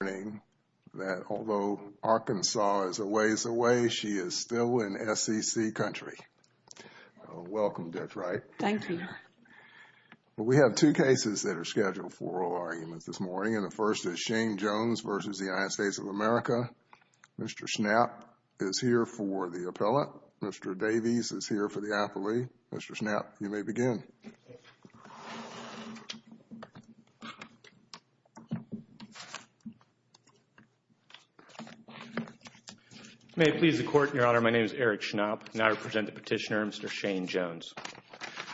of America, Mr. Schnapp is here for the appellate, Mr. Davies is here for the appellee, Mr. Schnapp you may begin. May it please the Court, Your Honor, my name is Eric Schnapp and I represent the petitioner, Mr. Shane Jones.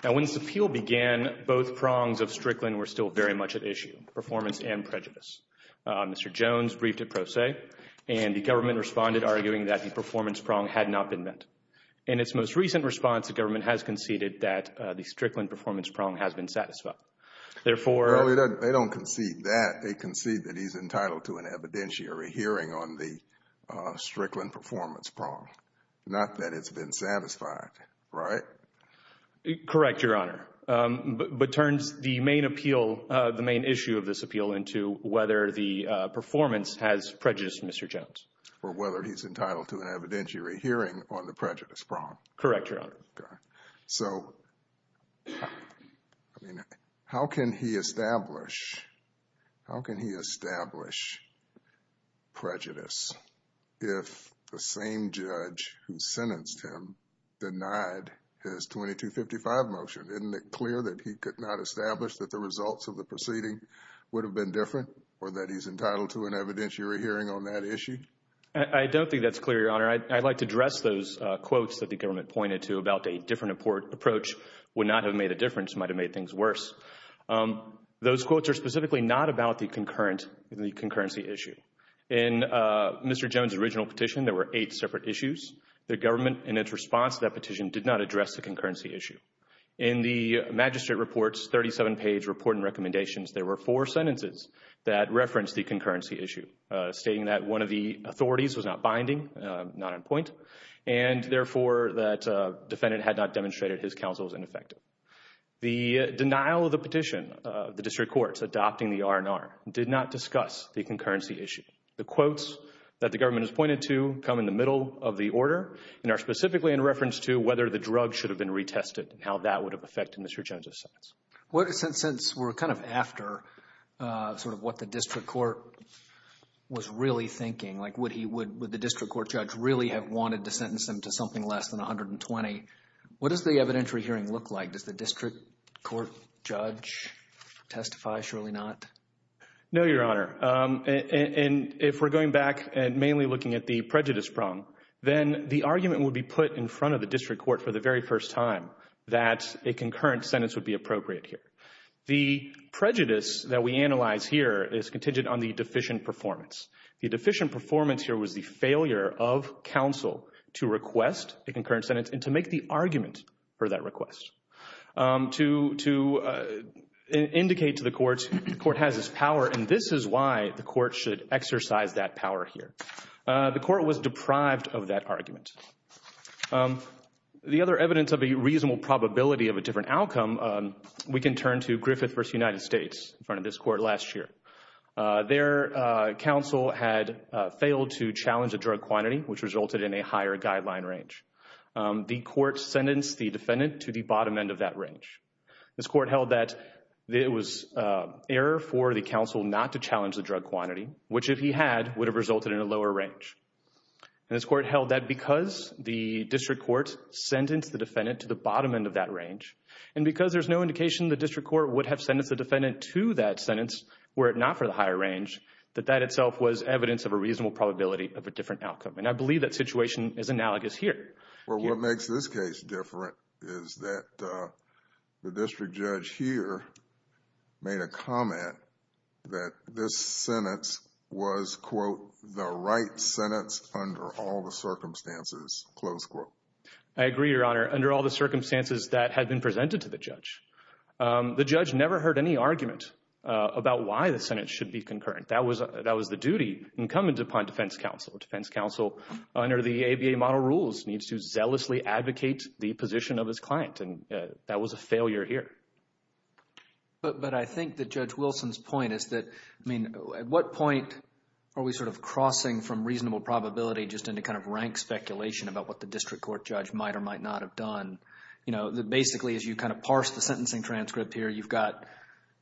Now when this appeal began, both prongs of Strickland were still very much at issue, performance and prejudice. Mr. Jones briefed it pro se and the government responded arguing that the performance prong had not been met. In its most recent response, the government has conceded that the Strickland performance prong has been satisfied. They don't concede that, they concede that he's entitled to an evidentiary hearing on the Strickland performance prong. Not that it's been satisfied, right? Correct, Your Honor. But turns the main appeal, the main issue of this appeal into whether the performance has prejudiced Mr. Jones. Or whether he's entitled to an evidentiary hearing on the prejudice prong. Correct, Your Honor. So, I mean, how can he establish prejudice if the same judge who sentenced him denied his 2255 motion? Isn't it clear that he could not establish that the results of the proceeding would have been different? Or that he's entitled to an evidentiary hearing on that issue? I don't think that's clear, Your Honor. I'd like to address those quotes that the government pointed to about a different approach would not have made a difference. It might have made things worse. Those quotes are specifically not about the concurrency issue. In Mr. Jones' original petition, there were eight separate issues. The government, in its response to that petition, did not address the concurrency issue. In the magistrate report's 37-page report and recommendations, there were four sentences that referenced the concurrency issue. Stating that one of the authorities was not binding, not on point. And, therefore, that defendant had not demonstrated his counsel was ineffective. The denial of the petition, the district courts adopting the R&R, did not discuss the concurrency issue. The quotes that the government has pointed to come in the middle of the order and are specifically in reference to whether the drug should have been retested Since we're kind of after sort of what the district court was really thinking, like would the district court judge really have wanted to sentence him to something less than 120, what does the evidentiary hearing look like? Does the district court judge testify? Surely not. No, Your Honor. And if we're going back and mainly looking at the prejudice problem, then the argument would be put in front of the district court for the very first time that a concurrent sentence would be appropriate here. The prejudice that we analyze here is contingent on the deficient performance. The deficient performance here was the failure of counsel to request a concurrent sentence and to make the argument for that request. To indicate to the courts, the court has this power and this is why the court should exercise that power here. The court was deprived of that argument. The other evidence of a reasonable probability of a different outcome, we can turn to Griffith v. United States in front of this court last year. Their counsel had failed to challenge the drug quantity, which resulted in a higher guideline range. The court sentenced the defendant to the bottom end of that range. This court held that it was error for the counsel not to challenge the drug quantity, which if he had, would have resulted in a lower range. And this court held that because the district court sentenced the defendant to the bottom end of that range and because there's no indication the district court would have sentenced the defendant to that sentence were it not for the higher range, that that itself was evidence of a reasonable probability of a different outcome. And I believe that situation is analogous here. Well, what makes this case different is that the district judge here made a comment that this sentence was, quote, the right sentence under all the circumstances, close quote. I agree, Your Honor. Under all the circumstances that had been presented to the judge. The judge never heard any argument about why the sentence should be concurrent. That was the duty incumbent upon defense counsel. Defense counsel, under the ABA model rules, needs to zealously advocate the position of his client, and that was a failure here. But I think that Judge Wilson's point is that, I mean, at what point are we sort of crossing from reasonable probability just into kind of rank speculation about what the district court judge might or might not have done? You know, basically, as you kind of parse the sentencing transcript here, you've got,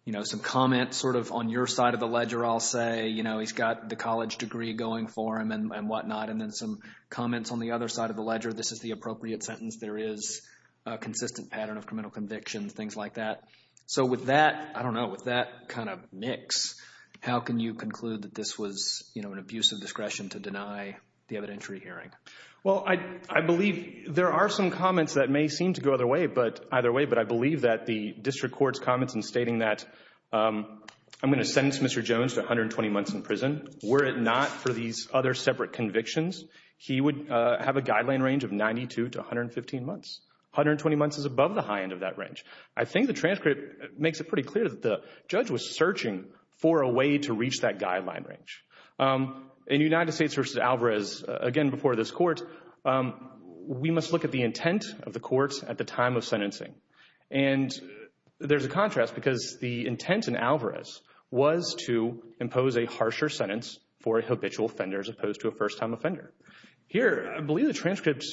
you know, some comments sort of on your side of the ledger, I'll say. You know, he's got the college degree going for him and whatnot, and then some comments on the other side of the ledger. This is the appropriate sentence. There is a consistent pattern of criminal conviction, things like that. So with that, I don't know, with that kind of mix, how can you conclude that this was, you know, an abuse of discretion to deny the evidentiary hearing? Well, I believe there are some comments that may seem to go either way, but I believe that the district court's comments in stating that I'm going to sentence Mr. Jones to 120 months in prison, were it not for these other separate convictions, he would have a guideline range of 92 to 115 months. 120 months is above the high end of that range. I think the transcript makes it pretty clear that the judge was searching for a way to reach that guideline range. In United States v. Alvarez, again, before this court, we must look at the intent of the court at the time of sentencing. And there's a contrast because the intent in Alvarez was to impose a harsher sentence for a habitual offender as opposed to a first-time offender. Here, I believe the transcript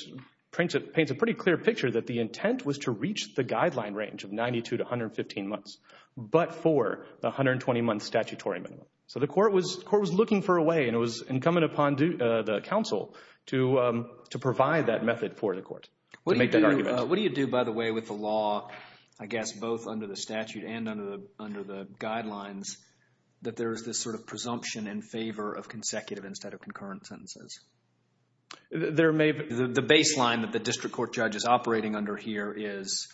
paints a pretty clear picture that the intent was to reach the guideline range of 92 to 115 months, but for the 120-month statutory minimum. So the court was looking for a way, and it was incumbent upon the counsel to provide that method for the court to make that argument. What do you do, by the way, with the law, I guess both under the statute and under the guidelines, that there is this sort of presumption in favor of consecutive instead of concurrent sentences? The baseline that the district court judge is operating under here is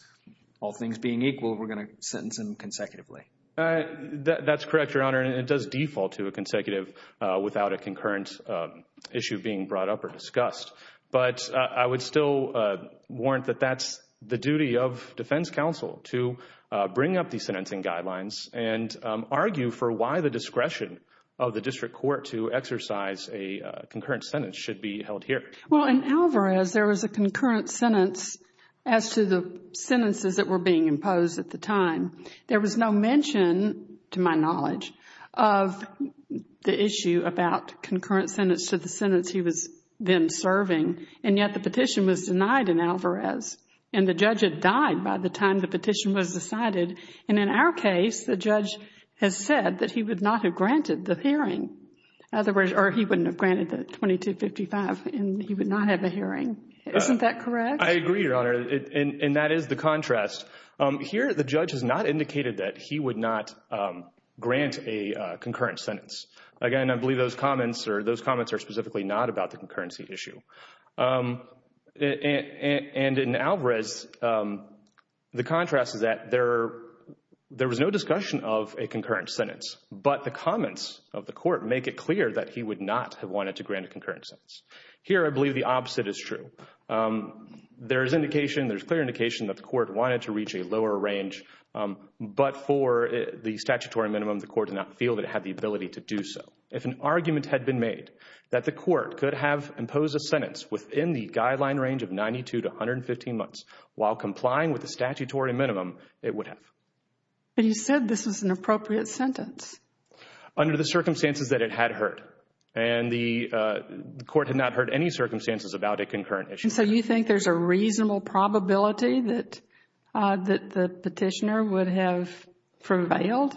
all things being equal, we're going to sentence him consecutively. That's correct, Your Honor, and it does default to a consecutive without a concurrent issue being brought up or discussed. But I would still warrant that that's the duty of defense counsel to bring up these sentencing guidelines and argue for why the discretion of the district court to exercise a concurrent sentence should be held here. Well, in Alvarez, there was a concurrent sentence as to the sentences that were being imposed at the time. There was no mention, to my knowledge, of the issue about concurrent sentence to the sentence he was then serving, and yet the petition was denied in Alvarez, and the judge had died by the time the petition was decided. And in our case, the judge has said that he would not have granted the hearing. In other words, or he wouldn't have granted the 2255, and he would not have a hearing. Isn't that correct? I agree, Your Honor, and that is the contrast. Here, the judge has not indicated that he would not grant a concurrent sentence. Again, I believe those comments are specifically not about the concurrency issue. And in Alvarez, the contrast is that there was no discussion of a concurrent sentence, but the comments of the court make it clear that he would not have wanted to grant a concurrent sentence. Here, I believe the opposite is true. There is indication, there is clear indication that the court wanted to reach a lower range, but for the statutory minimum, the court did not feel that it had the ability to do so. If an argument had been made that the court could have imposed a sentence within the guideline range of 92 to 115 months while complying with the statutory minimum, it would have. But you said this was an appropriate sentence. Under the circumstances that it had heard, and the court had not heard any circumstances about a concurrent issue. So you think there's a reasonable probability that the petitioner would have prevailed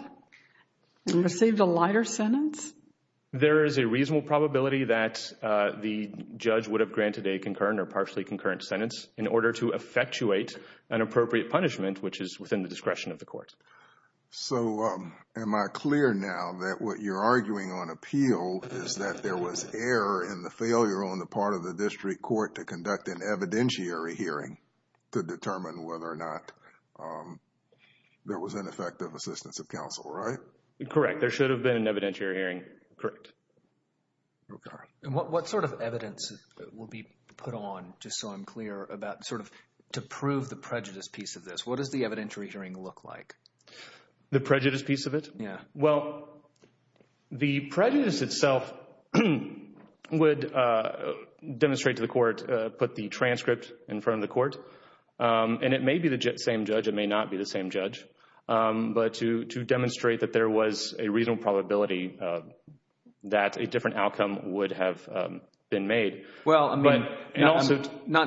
and received a lighter sentence? There is a reasonable probability that the judge would have granted a concurrent or partially concurrent sentence in order to effectuate an appropriate punishment, which is within the discretion of the court. So am I clear now that what you're arguing on appeal is that there was error in the failure on the part of the district court to conduct an evidentiary hearing to determine whether or not there was ineffective assistance of counsel, right? Correct. There should have been an evidentiary hearing. Correct. And what sort of evidence will be put on, just so I'm clear, about sort of to prove the prejudice piece of this? What does the evidentiary hearing look like? The prejudice piece of it? Yeah. Well, the prejudice itself would demonstrate to the court, put the transcript in front of the court, and it may be the same judge, it may not be the same judge, but to demonstrate that there was a reasonable probability that a different outcome would have been made. Well, I mean, I'm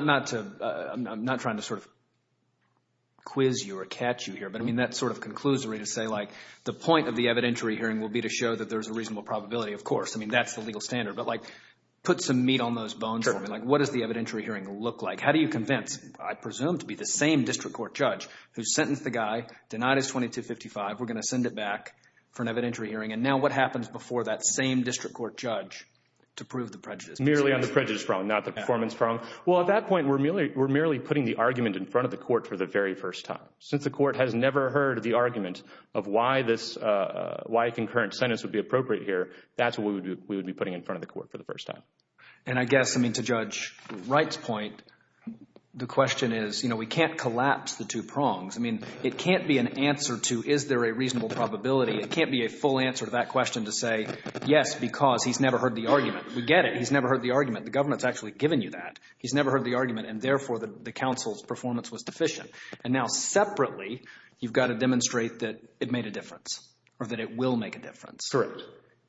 not trying to sort of quiz you or catch you here, but, I mean, that's sort of conclusory to say, like, the point of the evidentiary hearing will be to show that there's a reasonable probability. Of course, I mean, that's the legal standard. But, like, put some meat on those bones for me. Like, what does the evidentiary hearing look like? How do you convince, I presume, to be the same district court judge who sentenced the guy, denied his $2,255, we're going to send it back for an evidentiary hearing, and now what happens before that same district court judge to prove the prejudice piece of this? Merely on the prejudice prong, not the performance prong. Well, at that point, we're merely putting the argument in front of the court for the very first time. Since the court has never heard the argument of why a concurrent sentence would be appropriate here, that's what we would be putting in front of the court for the first time. And I guess, I mean, to Judge Wright's point, the question is, you know, we can't collapse the two prongs. I mean, it can't be an answer to is there a reasonable probability. It can't be a full answer to that question to say, yes, because he's never heard the argument. We get it. He's never heard the argument. The government's actually given you that. He's never heard the argument, and therefore the counsel's performance was deficient. And now separately, you've got to demonstrate that it made a difference or that it will make a difference. Correct.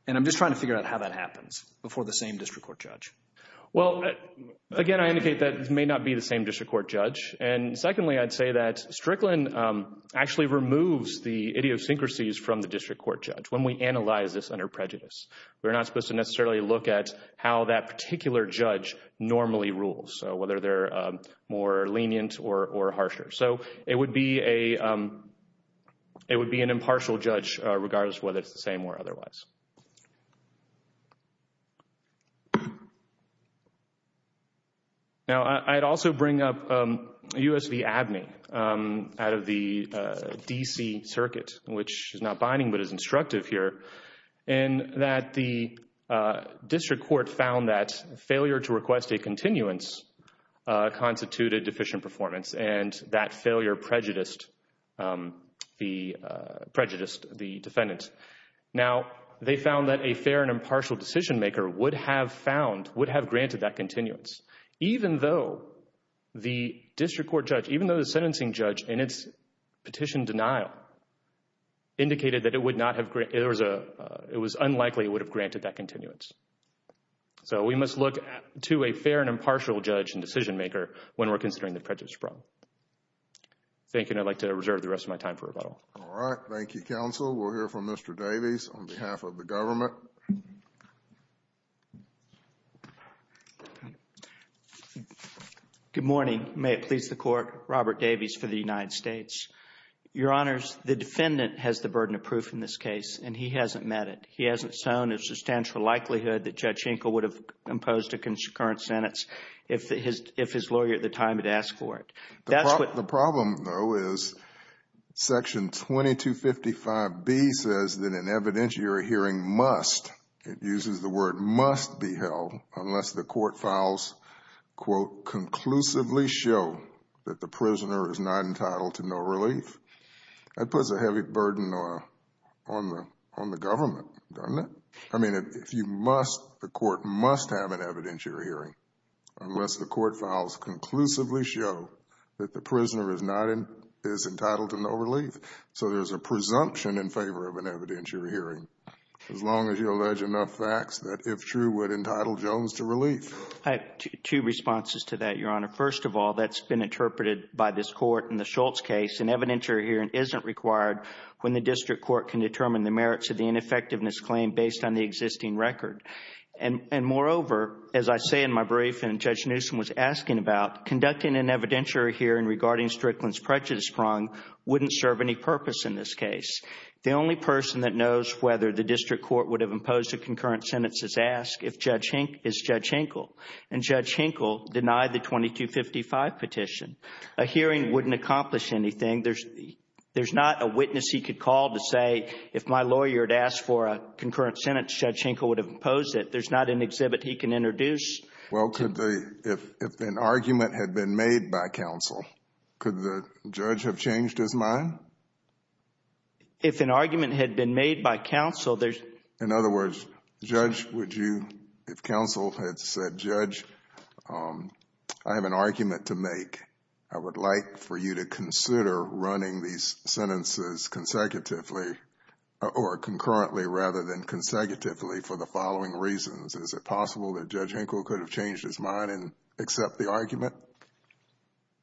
And I'm just trying to figure out how that happens before the same district court judge. Well, again, I indicate that it may not be the same district court judge. And secondly, I'd say that Strickland actually removes the idiosyncrasies from the district court judge when we analyze this under prejudice. We're not supposed to necessarily look at how that particular judge normally rules, so whether they're more lenient or harsher. So it would be an impartial judge regardless of whether it's the same or otherwise. Now, I'd also bring up U.S. v. Abney out of the D.C. Circuit, which is not binding but is instructive here, in that the district court found that failure to request a continuance constituted deficient performance, and that failure prejudiced the defendant. Now, they found that a fair and impartial decision-maker would have found, would have granted that continuance, even though the district court judge, even though the sentencing judge in its petition denial indicated that it was unlikely it would have granted that continuance. So we must look to a fair and impartial judge and decision-maker when we're considering the prejudice problem. Thank you, and I'd like to reserve the rest of my time for rebuttal. All right. Thank you, counsel. We'll hear from Mr. Davies on behalf of the government. Good morning. May it please the Court, Robert Davies for the United States. Your Honors, the defendant has the burden of proof in this case, and he hasn't met it. He hasn't shown a substantial likelihood that Judge Enkel would have imposed a concurrent sentence if his lawyer at the time had asked for it. The problem, though, is Section 2255B says that an evidentiary hearing must, it uses the word must be held, unless the court files, quote, conclusively show that the prisoner is not entitled to no relief. That puts a heavy burden on the government, doesn't it? I mean, if you must, the court must have an evidentiary hearing, unless the court files conclusively show that the prisoner is entitled to no relief. So there's a presumption in favor of an evidentiary hearing. As long as you allege enough facts that, if true, would entitle Jones to relief. I have two responses to that, Your Honor. First of all, that's been interpreted by this Court in the Schultz case. An evidentiary hearing isn't required when the district court can determine the merits of the ineffectiveness claim based on the existing record. And moreover, as I say in my brief and Judge Newsom was asking about, conducting an evidentiary hearing regarding Strickland's prejudice prong wouldn't serve any purpose in this case. The only person that knows whether the district court would have imposed a concurrent sentence is asked is Judge Hinkle. And Judge Hinkle denied the 2255 petition. A hearing wouldn't accomplish anything. There's not a witness he could call to say, if my lawyer had asked for a concurrent sentence, Judge Hinkle would have imposed it. There's not an exhibit he can introduce. Well, if an argument had been made by counsel, could the judge have changed his mind? If an argument had been made by counsel, there's In other words, if counsel had said, Judge, I have an argument to make. I would like for you to consider running these sentences consecutively or concurrently rather than consecutively for the following reasons. Is it possible that Judge Hinkle could have changed his mind and accept the argument?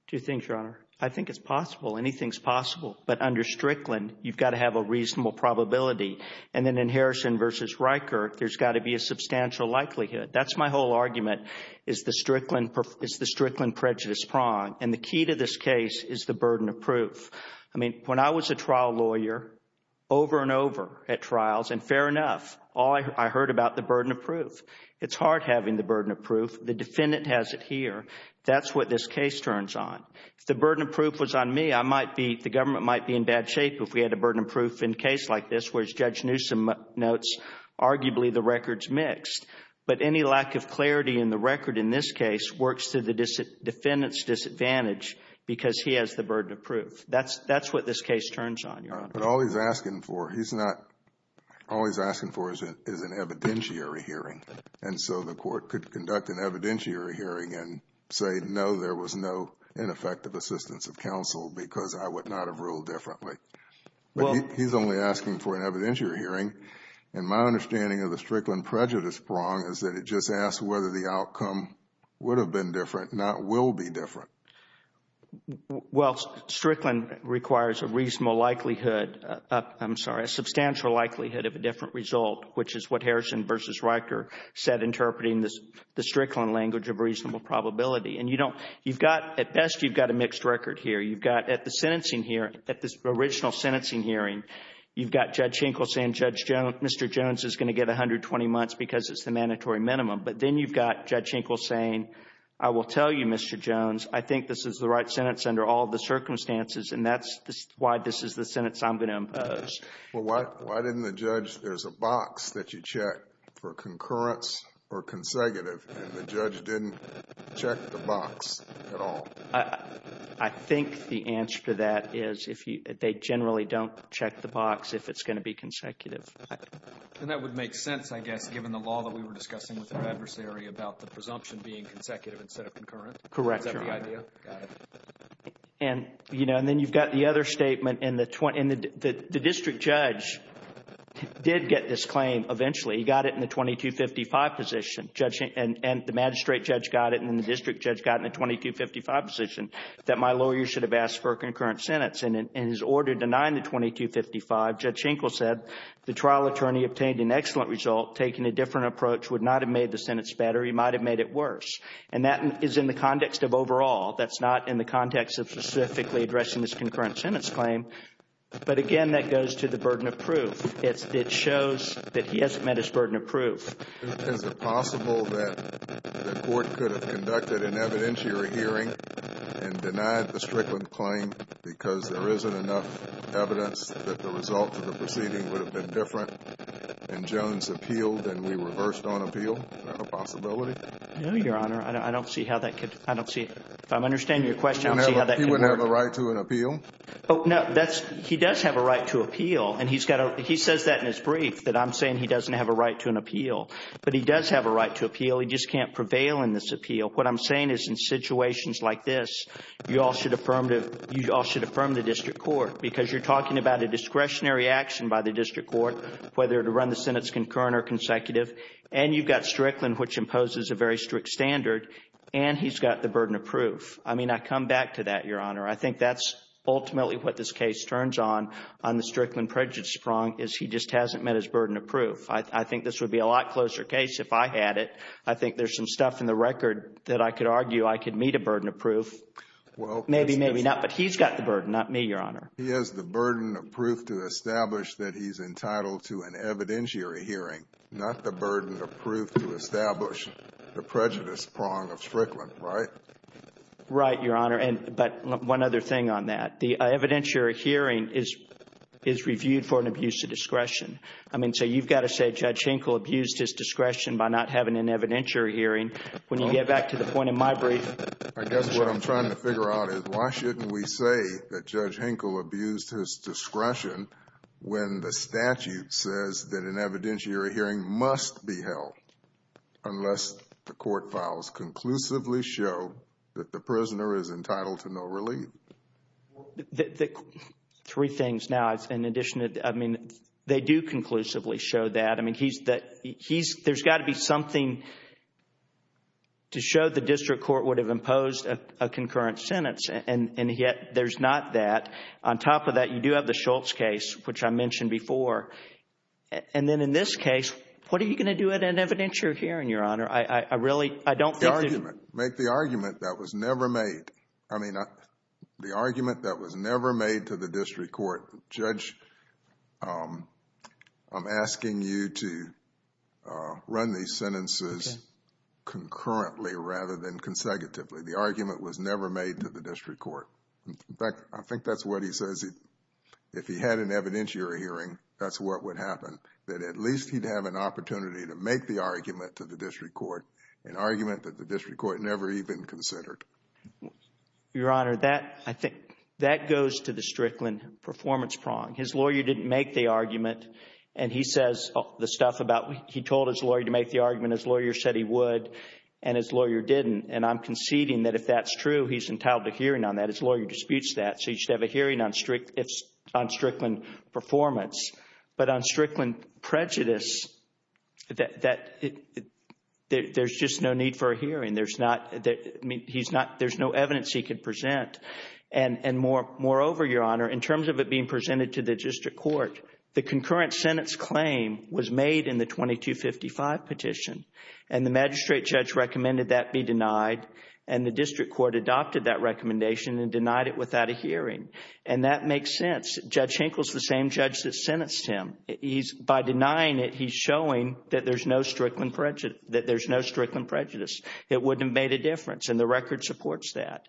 Two things, Your Honor. I think it's possible. Anything's possible. But under Strickland, you've got to have a reasonable probability. And then in Harrison v. Reichert, there's got to be a substantial likelihood. That's my whole argument, is the Strickland prejudice prong. And the key to this case is the burden of proof. I mean, when I was a trial lawyer, over and over at trials, and fair enough, all I heard about the burden of proof. It's hard having the burden of proof. The defendant has it here. That's what this case turns on. If the burden of proof was on me, I might be, the government might be in bad shape if we had a burden of proof in a case like this, whereas Judge Newsom notes, arguably, the record's mixed. But any lack of clarity in the record in this case works to the defendant's disadvantage because he has the burden of proof. That's what this case turns on, Your Honor. But all he's asking for, he's not, all he's asking for is an evidentiary hearing. And so the court could conduct an evidentiary hearing and say, no, there was no ineffective assistance of counsel because I would not have ruled differently. But he's only asking for an evidentiary hearing. And my understanding of the Strickland prejudice prong is that it just asks whether the outcome would have been different, not will be different. Well, Strickland requires a reasonable likelihood, I'm sorry, a substantial likelihood of a different result, which is what Harrison v. Riker said, interpreting the Strickland language of reasonable probability. And you don't, you've got, at best, you've got a mixed record here. You've got, at the sentencing hearing, at the original sentencing hearing, you've got Judge Schenkel saying Judge Jones, Mr. Jones is going to get 120 months because it's the mandatory minimum. But then you've got Judge Schenkel saying, I will tell you, Mr. Jones, I think this is the right sentence under all the circumstances, and that's why this is the sentence I'm going to impose. Well, why didn't the judge, there's a box that you check for concurrence or consecutive, and the judge didn't check the box at all? I think the answer to that is if you, they generally don't check the box if it's going to be consecutive. And that would make sense, I guess, given the law that we were discussing with our adversary about the presumption being consecutive instead of concurrent. Correct. Is that the idea? Got it. And, you know, and then you've got the other statement, and the district judge did get this claim eventually. He got it in the 2255 position. And the magistrate judge got it, and then the district judge got it in the 2255 position, that my lawyer should have asked for a concurrent sentence. And in his order denying the 2255, Judge Schenkel said the trial attorney obtained an excellent result. Taking a different approach would not have made the sentence better. He might have made it worse. And that is in the context of overall. That's not in the context of specifically addressing this concurrent sentence claim. But, again, that goes to the burden of proof. It shows that he hasn't met his burden of proof. Is it possible that the court could have conducted an evidentiary hearing and denied the Strickland claim because there isn't enough evidence that the result of the proceeding would have been different and Jones appealed and we reversed on appeal? Is that a possibility? No, Your Honor. I don't see how that could. I don't see. If I'm understanding your question, I don't see how that could work. He wouldn't have a right to an appeal? Oh, no. He does have a right to appeal. He says that in his brief that I'm saying he doesn't have a right to an appeal. But he does have a right to appeal. He just can't prevail in this appeal. What I'm saying is in situations like this, you all should affirm the district court because you're talking about a discretionary action by the district court whether to run the sentence concurrent or consecutive. And you've got Strickland, which imposes a very strict standard, and he's got the burden of proof. I mean, I come back to that, Your Honor. I think that's ultimately what this case turns on, on the Strickland prejudice prong, is he just hasn't met his burden of proof. I think this would be a lot closer case if I had it. I think there's some stuff in the record that I could argue I could meet a burden of proof. Maybe, maybe not. But he's got the burden, not me, Your Honor. He has the burden of proof to establish that he's entitled to an evidentiary hearing, not the burden of proof to establish the prejudice prong of Strickland, right? Right, Your Honor. But one other thing on that. The evidentiary hearing is reviewed for an abuse of discretion. I mean, so you've got to say Judge Hinkle abused his discretion by not having an evidentiary hearing. When you get back to the point in my brief. I guess what I'm trying to figure out is why shouldn't we say that Judge Hinkle abused his discretion when the statute says that an evidentiary hearing must be held unless the court files conclusively show that the prisoner is entitled to no relief? Three things. Now, in addition, I mean, they do conclusively show that. I mean, there's got to be something to show the district court would have imposed a concurrent sentence, and yet there's not that. On top of that, you do have the Schultz case, which I mentioned before. And then in this case, what are you going to do at an evidentiary hearing, Your Honor? I really, I don't think. The argument. Make the argument that was never made. I mean, the argument that was never made to the district court. Judge, I'm asking you to run these sentences concurrently rather than consecutively. The argument was never made to the district court. In fact, I think that's what he says. If he had an evidentiary hearing, that's what would happen, that at least he'd have an opportunity to make the argument to the district court, an argument that the district court never even considered. Your Honor, that, I think, that goes to the Strickland performance prong. His lawyer didn't make the argument, and he says the stuff about he told his lawyer to make the argument. His lawyer said he would, and his lawyer didn't. And I'm conceding that if that's true, he's entitled to hearing on that. His lawyer disputes that. So he should have a hearing on Strickland performance. But on Strickland prejudice, there's just no need for a hearing. There's not, I mean, he's not, there's no evidence he could present. And moreover, Your Honor, in terms of it being presented to the district court, the concurrent sentence claim was made in the 2255 petition, and the magistrate judge recommended that be denied. And the district court adopted that recommendation and denied it without a hearing. And that makes sense. Judge Hinkle's the same judge that sentenced him. By denying it, he's showing that there's no Strickland prejudice, that there's no Strickland prejudice. It wouldn't have made a difference, and the record supports that.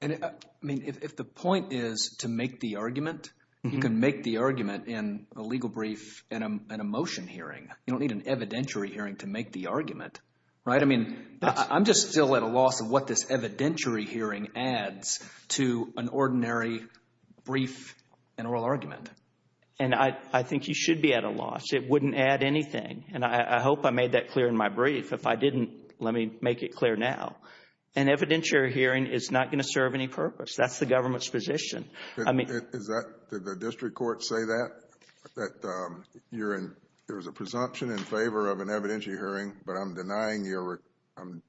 And, I mean, if the point is to make the argument, you can make the argument in a legal brief in a motion hearing. You don't need an evidentiary hearing to make the argument, right? I mean I'm just still at a loss of what this evidentiary hearing adds to an ordinary brief and oral argument. And I think you should be at a loss. It wouldn't add anything. And I hope I made that clear in my brief. If I didn't, let me make it clear now. An evidentiary hearing is not going to serve any purpose. That's the government's position. Did the district court say that, that there was a presumption in favor of an evidentiary hearing, but I'm denying I'm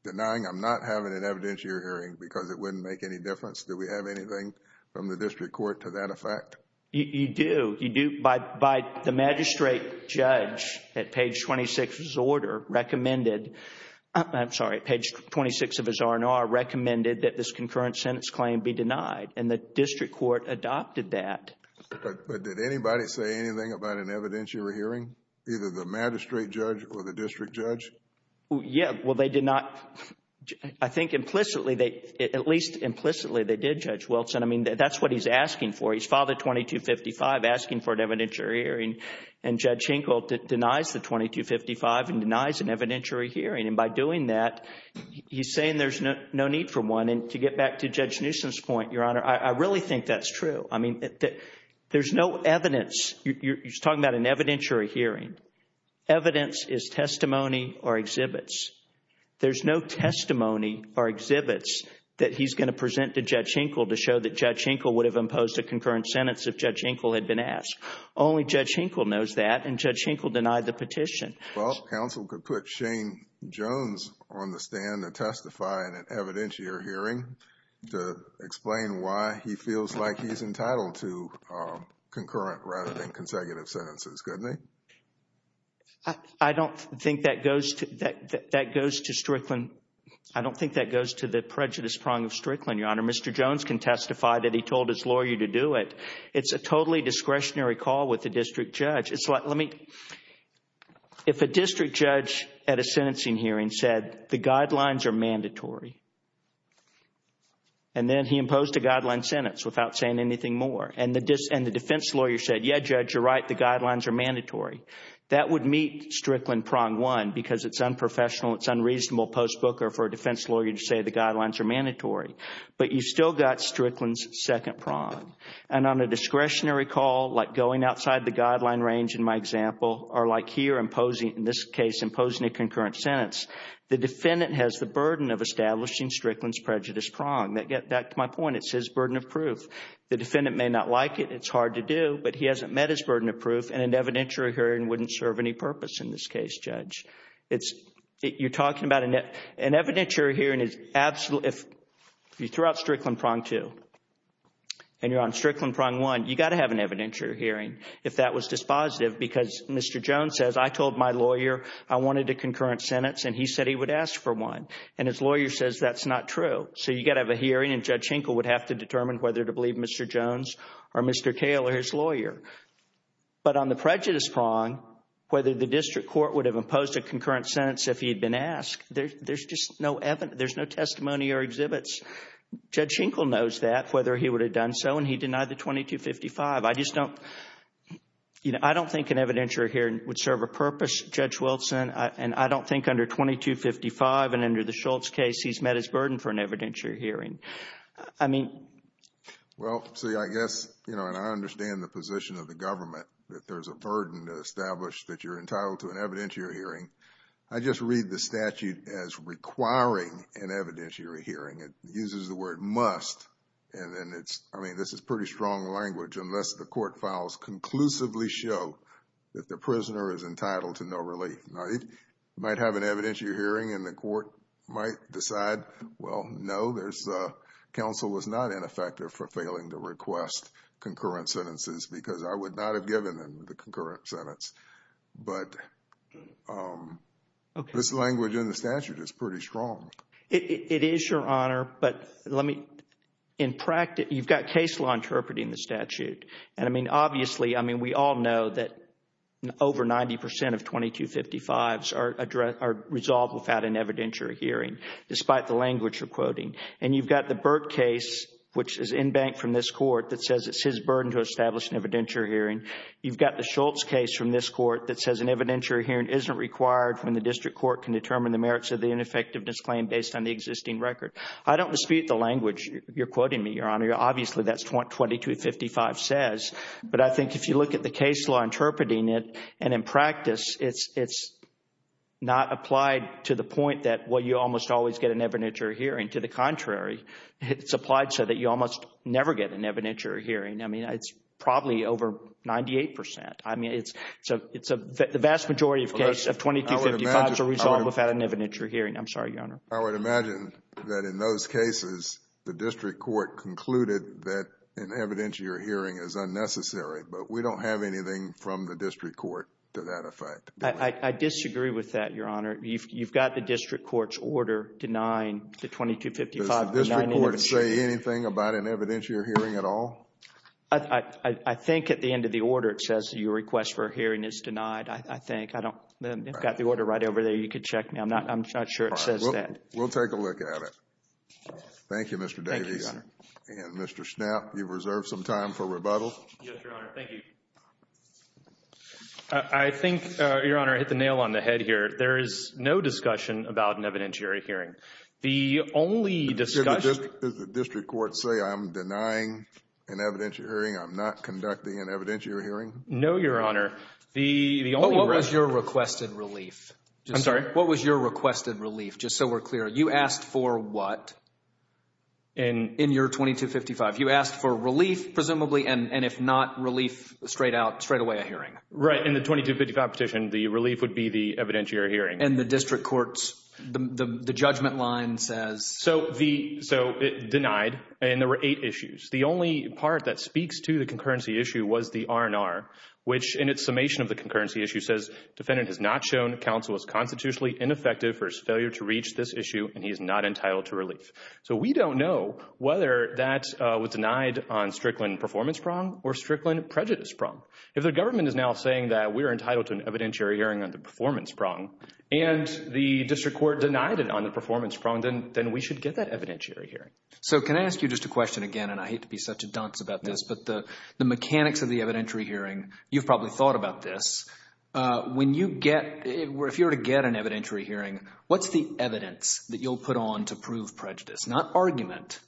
not having an evidentiary hearing because it wouldn't make any difference? Do we have anything from the district court to that effect? You do. You do. By the magistrate judge at page 26 of his order recommended, I'm sorry, page 26 of his R&R recommended that this concurrent sentence claim be denied, and the district court adopted that. But did anybody say anything about an evidentiary hearing, either the magistrate judge or the district judge? Yeah, well, they did not. I think implicitly, at least implicitly, they did, Judge Wilson. I mean, that's what he's asking for. He's filed a 2255 asking for an evidentiary hearing, and Judge Hinkle denies the 2255 and denies an evidentiary hearing. And by doing that, he's saying there's no need for one. And to get back to Judge Newsom's point, Your Honor, I really think that's true. I mean, there's no evidence. He's talking about an evidentiary hearing. Evidence is testimony or exhibits. There's no testimony or exhibits that he's going to present to Judge Hinkle to show that Judge Hinkle would have imposed a concurrent sentence if Judge Hinkle had been asked. Only Judge Hinkle knows that, and Judge Hinkle denied the petition. Well, counsel could put Shane Jones on the stand to testify in an evidentiary hearing to explain why he feels like he's entitled to concurrent rather than consecutive sentences, couldn't he? I don't think that goes to Strickland. I don't think that goes to the prejudice prong of Strickland, Your Honor. Mr. Jones can testify that he told his lawyer to do it. It's a totally discretionary call with the district judge. It's like, let me, if a district judge at a sentencing hearing said the guidelines are mandatory, and then he imposed a guideline sentence without saying anything more, and the defense lawyer said, yeah, Judge, you're right. The guidelines are mandatory. That would meet Strickland prong one because it's unprofessional. It's unreasonable post book or for a defense lawyer to say the guidelines are mandatory, but you still got Strickland's second prong. And on a discretionary call, like going outside the guideline range in my example, or like here imposing, in this case, imposing a concurrent sentence, the defendant has the burden of establishing Strickland's prejudice prong. That gets back to my point. It's his burden of proof. The defendant may not like it. It's hard to do, but he hasn't met his burden of proof, and an evidentiary hearing wouldn't serve any purpose in this case, Judge. It's, you're talking about, an evidentiary hearing is, if you threw out Strickland prong two, and you're on Strickland prong one, you got to have an evidentiary hearing if that was dispositive because Mr. Jones says, I told my lawyer I wanted a concurrent sentence, and he said he would ask for one, and his lawyer says that's not true. So you got to have a hearing, and Judge Schenkel would have to determine whether to believe Mr. Jones or Mr. Cale or his lawyer. But on the prejudice prong, whether the district court would have imposed a concurrent sentence if he had been asked, there's just no, there's no testimony or exhibits. Judge Schenkel knows that, whether he would have done so, and he denied the 2255. I just don't, you know, I don't think an evidentiary hearing would serve a purpose, Judge Wilson, and I don't think under 2255 and under the Schultz case, he's met his burden for an evidentiary hearing. I mean. Well, see, I guess, you know, and I understand the position of the government, that there's a burden to establish that you're entitled to an evidentiary hearing. I just read the statute as requiring an evidentiary hearing. It uses the word must, and then it's, I mean, this is pretty strong language, unless the court files conclusively show that the prisoner is entitled to no relief. Now, it might have an evidentiary hearing, and the court might decide, well, no, there's, counsel is not ineffective for failing to request concurrent sentences, because I would not have given them the concurrent sentence. But this language in the statute is pretty strong. It is, Your Honor, but let me, in practice, you've got case law interpreting the statute. And, I mean, obviously, I mean, we all know that over 90 percent of 2255s are resolved without an evidentiary hearing, despite the language you're quoting. And you've got the Burt case, which is in bank from this court, that says it's his burden to establish an evidentiary hearing. You've got the Schultz case from this court that says an evidentiary hearing isn't required when the district court can determine the merits of the ineffectiveness claim based on the existing record. I don't dispute the language you're quoting me, Your Honor. Obviously, that's what 2255 says. But I think if you look at the case law interpreting it, and in practice, it's not applied to the point that, well, you almost always get an evidentiary hearing. To the contrary, it's applied so that you almost never get an evidentiary hearing. I mean, it's probably over 98 percent. I mean, it's a vast majority of cases of 2255s are resolved without an evidentiary hearing. I'm sorry, Your Honor. I would imagine that in those cases, the district court concluded that an evidentiary hearing is unnecessary. But we don't have anything from the district court to that effect. I disagree with that, Your Honor. You've got the district court's order denying the 2255. Does the district court say anything about an evidentiary hearing at all? I think at the end of the order it says your request for a hearing is denied, I think. I've got the order right over there. You can check me. I'm not sure it says that. We'll take a look at it. Thank you, Mr. Davies. Thank you, Your Honor. And Mr. Schnapp, you've reserved some time for rebuttal. Yes, Your Honor. Thank you. I think, Your Honor, I hit the nail on the head here. There is no discussion about an evidentiary hearing. The only discussion— Does the district court say I'm denying an evidentiary hearing? I'm not conducting an evidentiary hearing? No, Your Honor. What was your requested relief? I'm sorry? What was your requested relief, just so we're clear? You asked for what in your 2255? You asked for relief, presumably, and if not relief, straightaway a hearing. Right. In the 2255 petition, the relief would be the evidentiary hearing. And the district court's judgment line says— So it denied, and there were eight issues. The only part that speaks to the concurrency issue was the R&R, which in its summation of the concurrency issue says, defendant has not shown counsel as constitutionally ineffective for his failure to reach this issue, and he is not entitled to relief. So we don't know whether that was denied on Strickland performance prong or Strickland prejudice prong. If the government is now saying that we're entitled to an evidentiary hearing on the performance prong and the district court denied it on the performance prong, then we should get that evidentiary hearing. So can I ask you just a question again? And I hate to be such a dunce about this, but the mechanics of the evidentiary hearing, you've probably thought about this. When you get—if you were to get an evidentiary hearing, what's the evidence that you'll put on to prove prejudice? Not argument,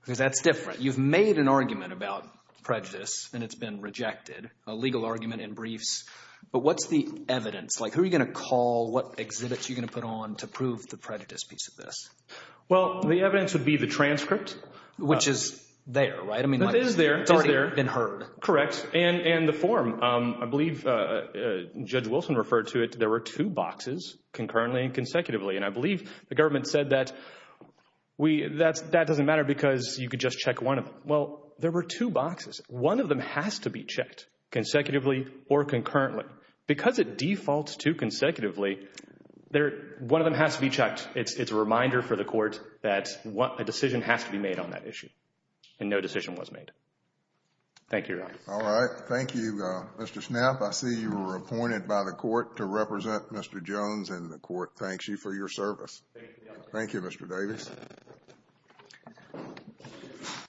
because that's different. You've made an argument about prejudice, and it's been rejected, a legal argument in briefs. But what's the evidence? Like who are you going to call, what exhibits are you going to put on to prove the prejudice piece of this? Well, the evidence would be the transcript. Which is there, right? It is there. It's already been heard. Correct. And the form. I believe Judge Wilson referred to it. There were two boxes, concurrently and consecutively, and I believe the government said that that doesn't matter because you could just check one of them. Well, there were two boxes. One of them has to be checked consecutively or concurrently. However, because it defaults to consecutively, one of them has to be checked. It's a reminder for the court that a decision has to be made on that issue. And no decision was made. Thank you, Your Honor. All right. Thank you, Mr. Snapp. I see you were appointed by the court to represent Mr. Jones, and the court thanks you for your service. Thank you, Mr. Davis.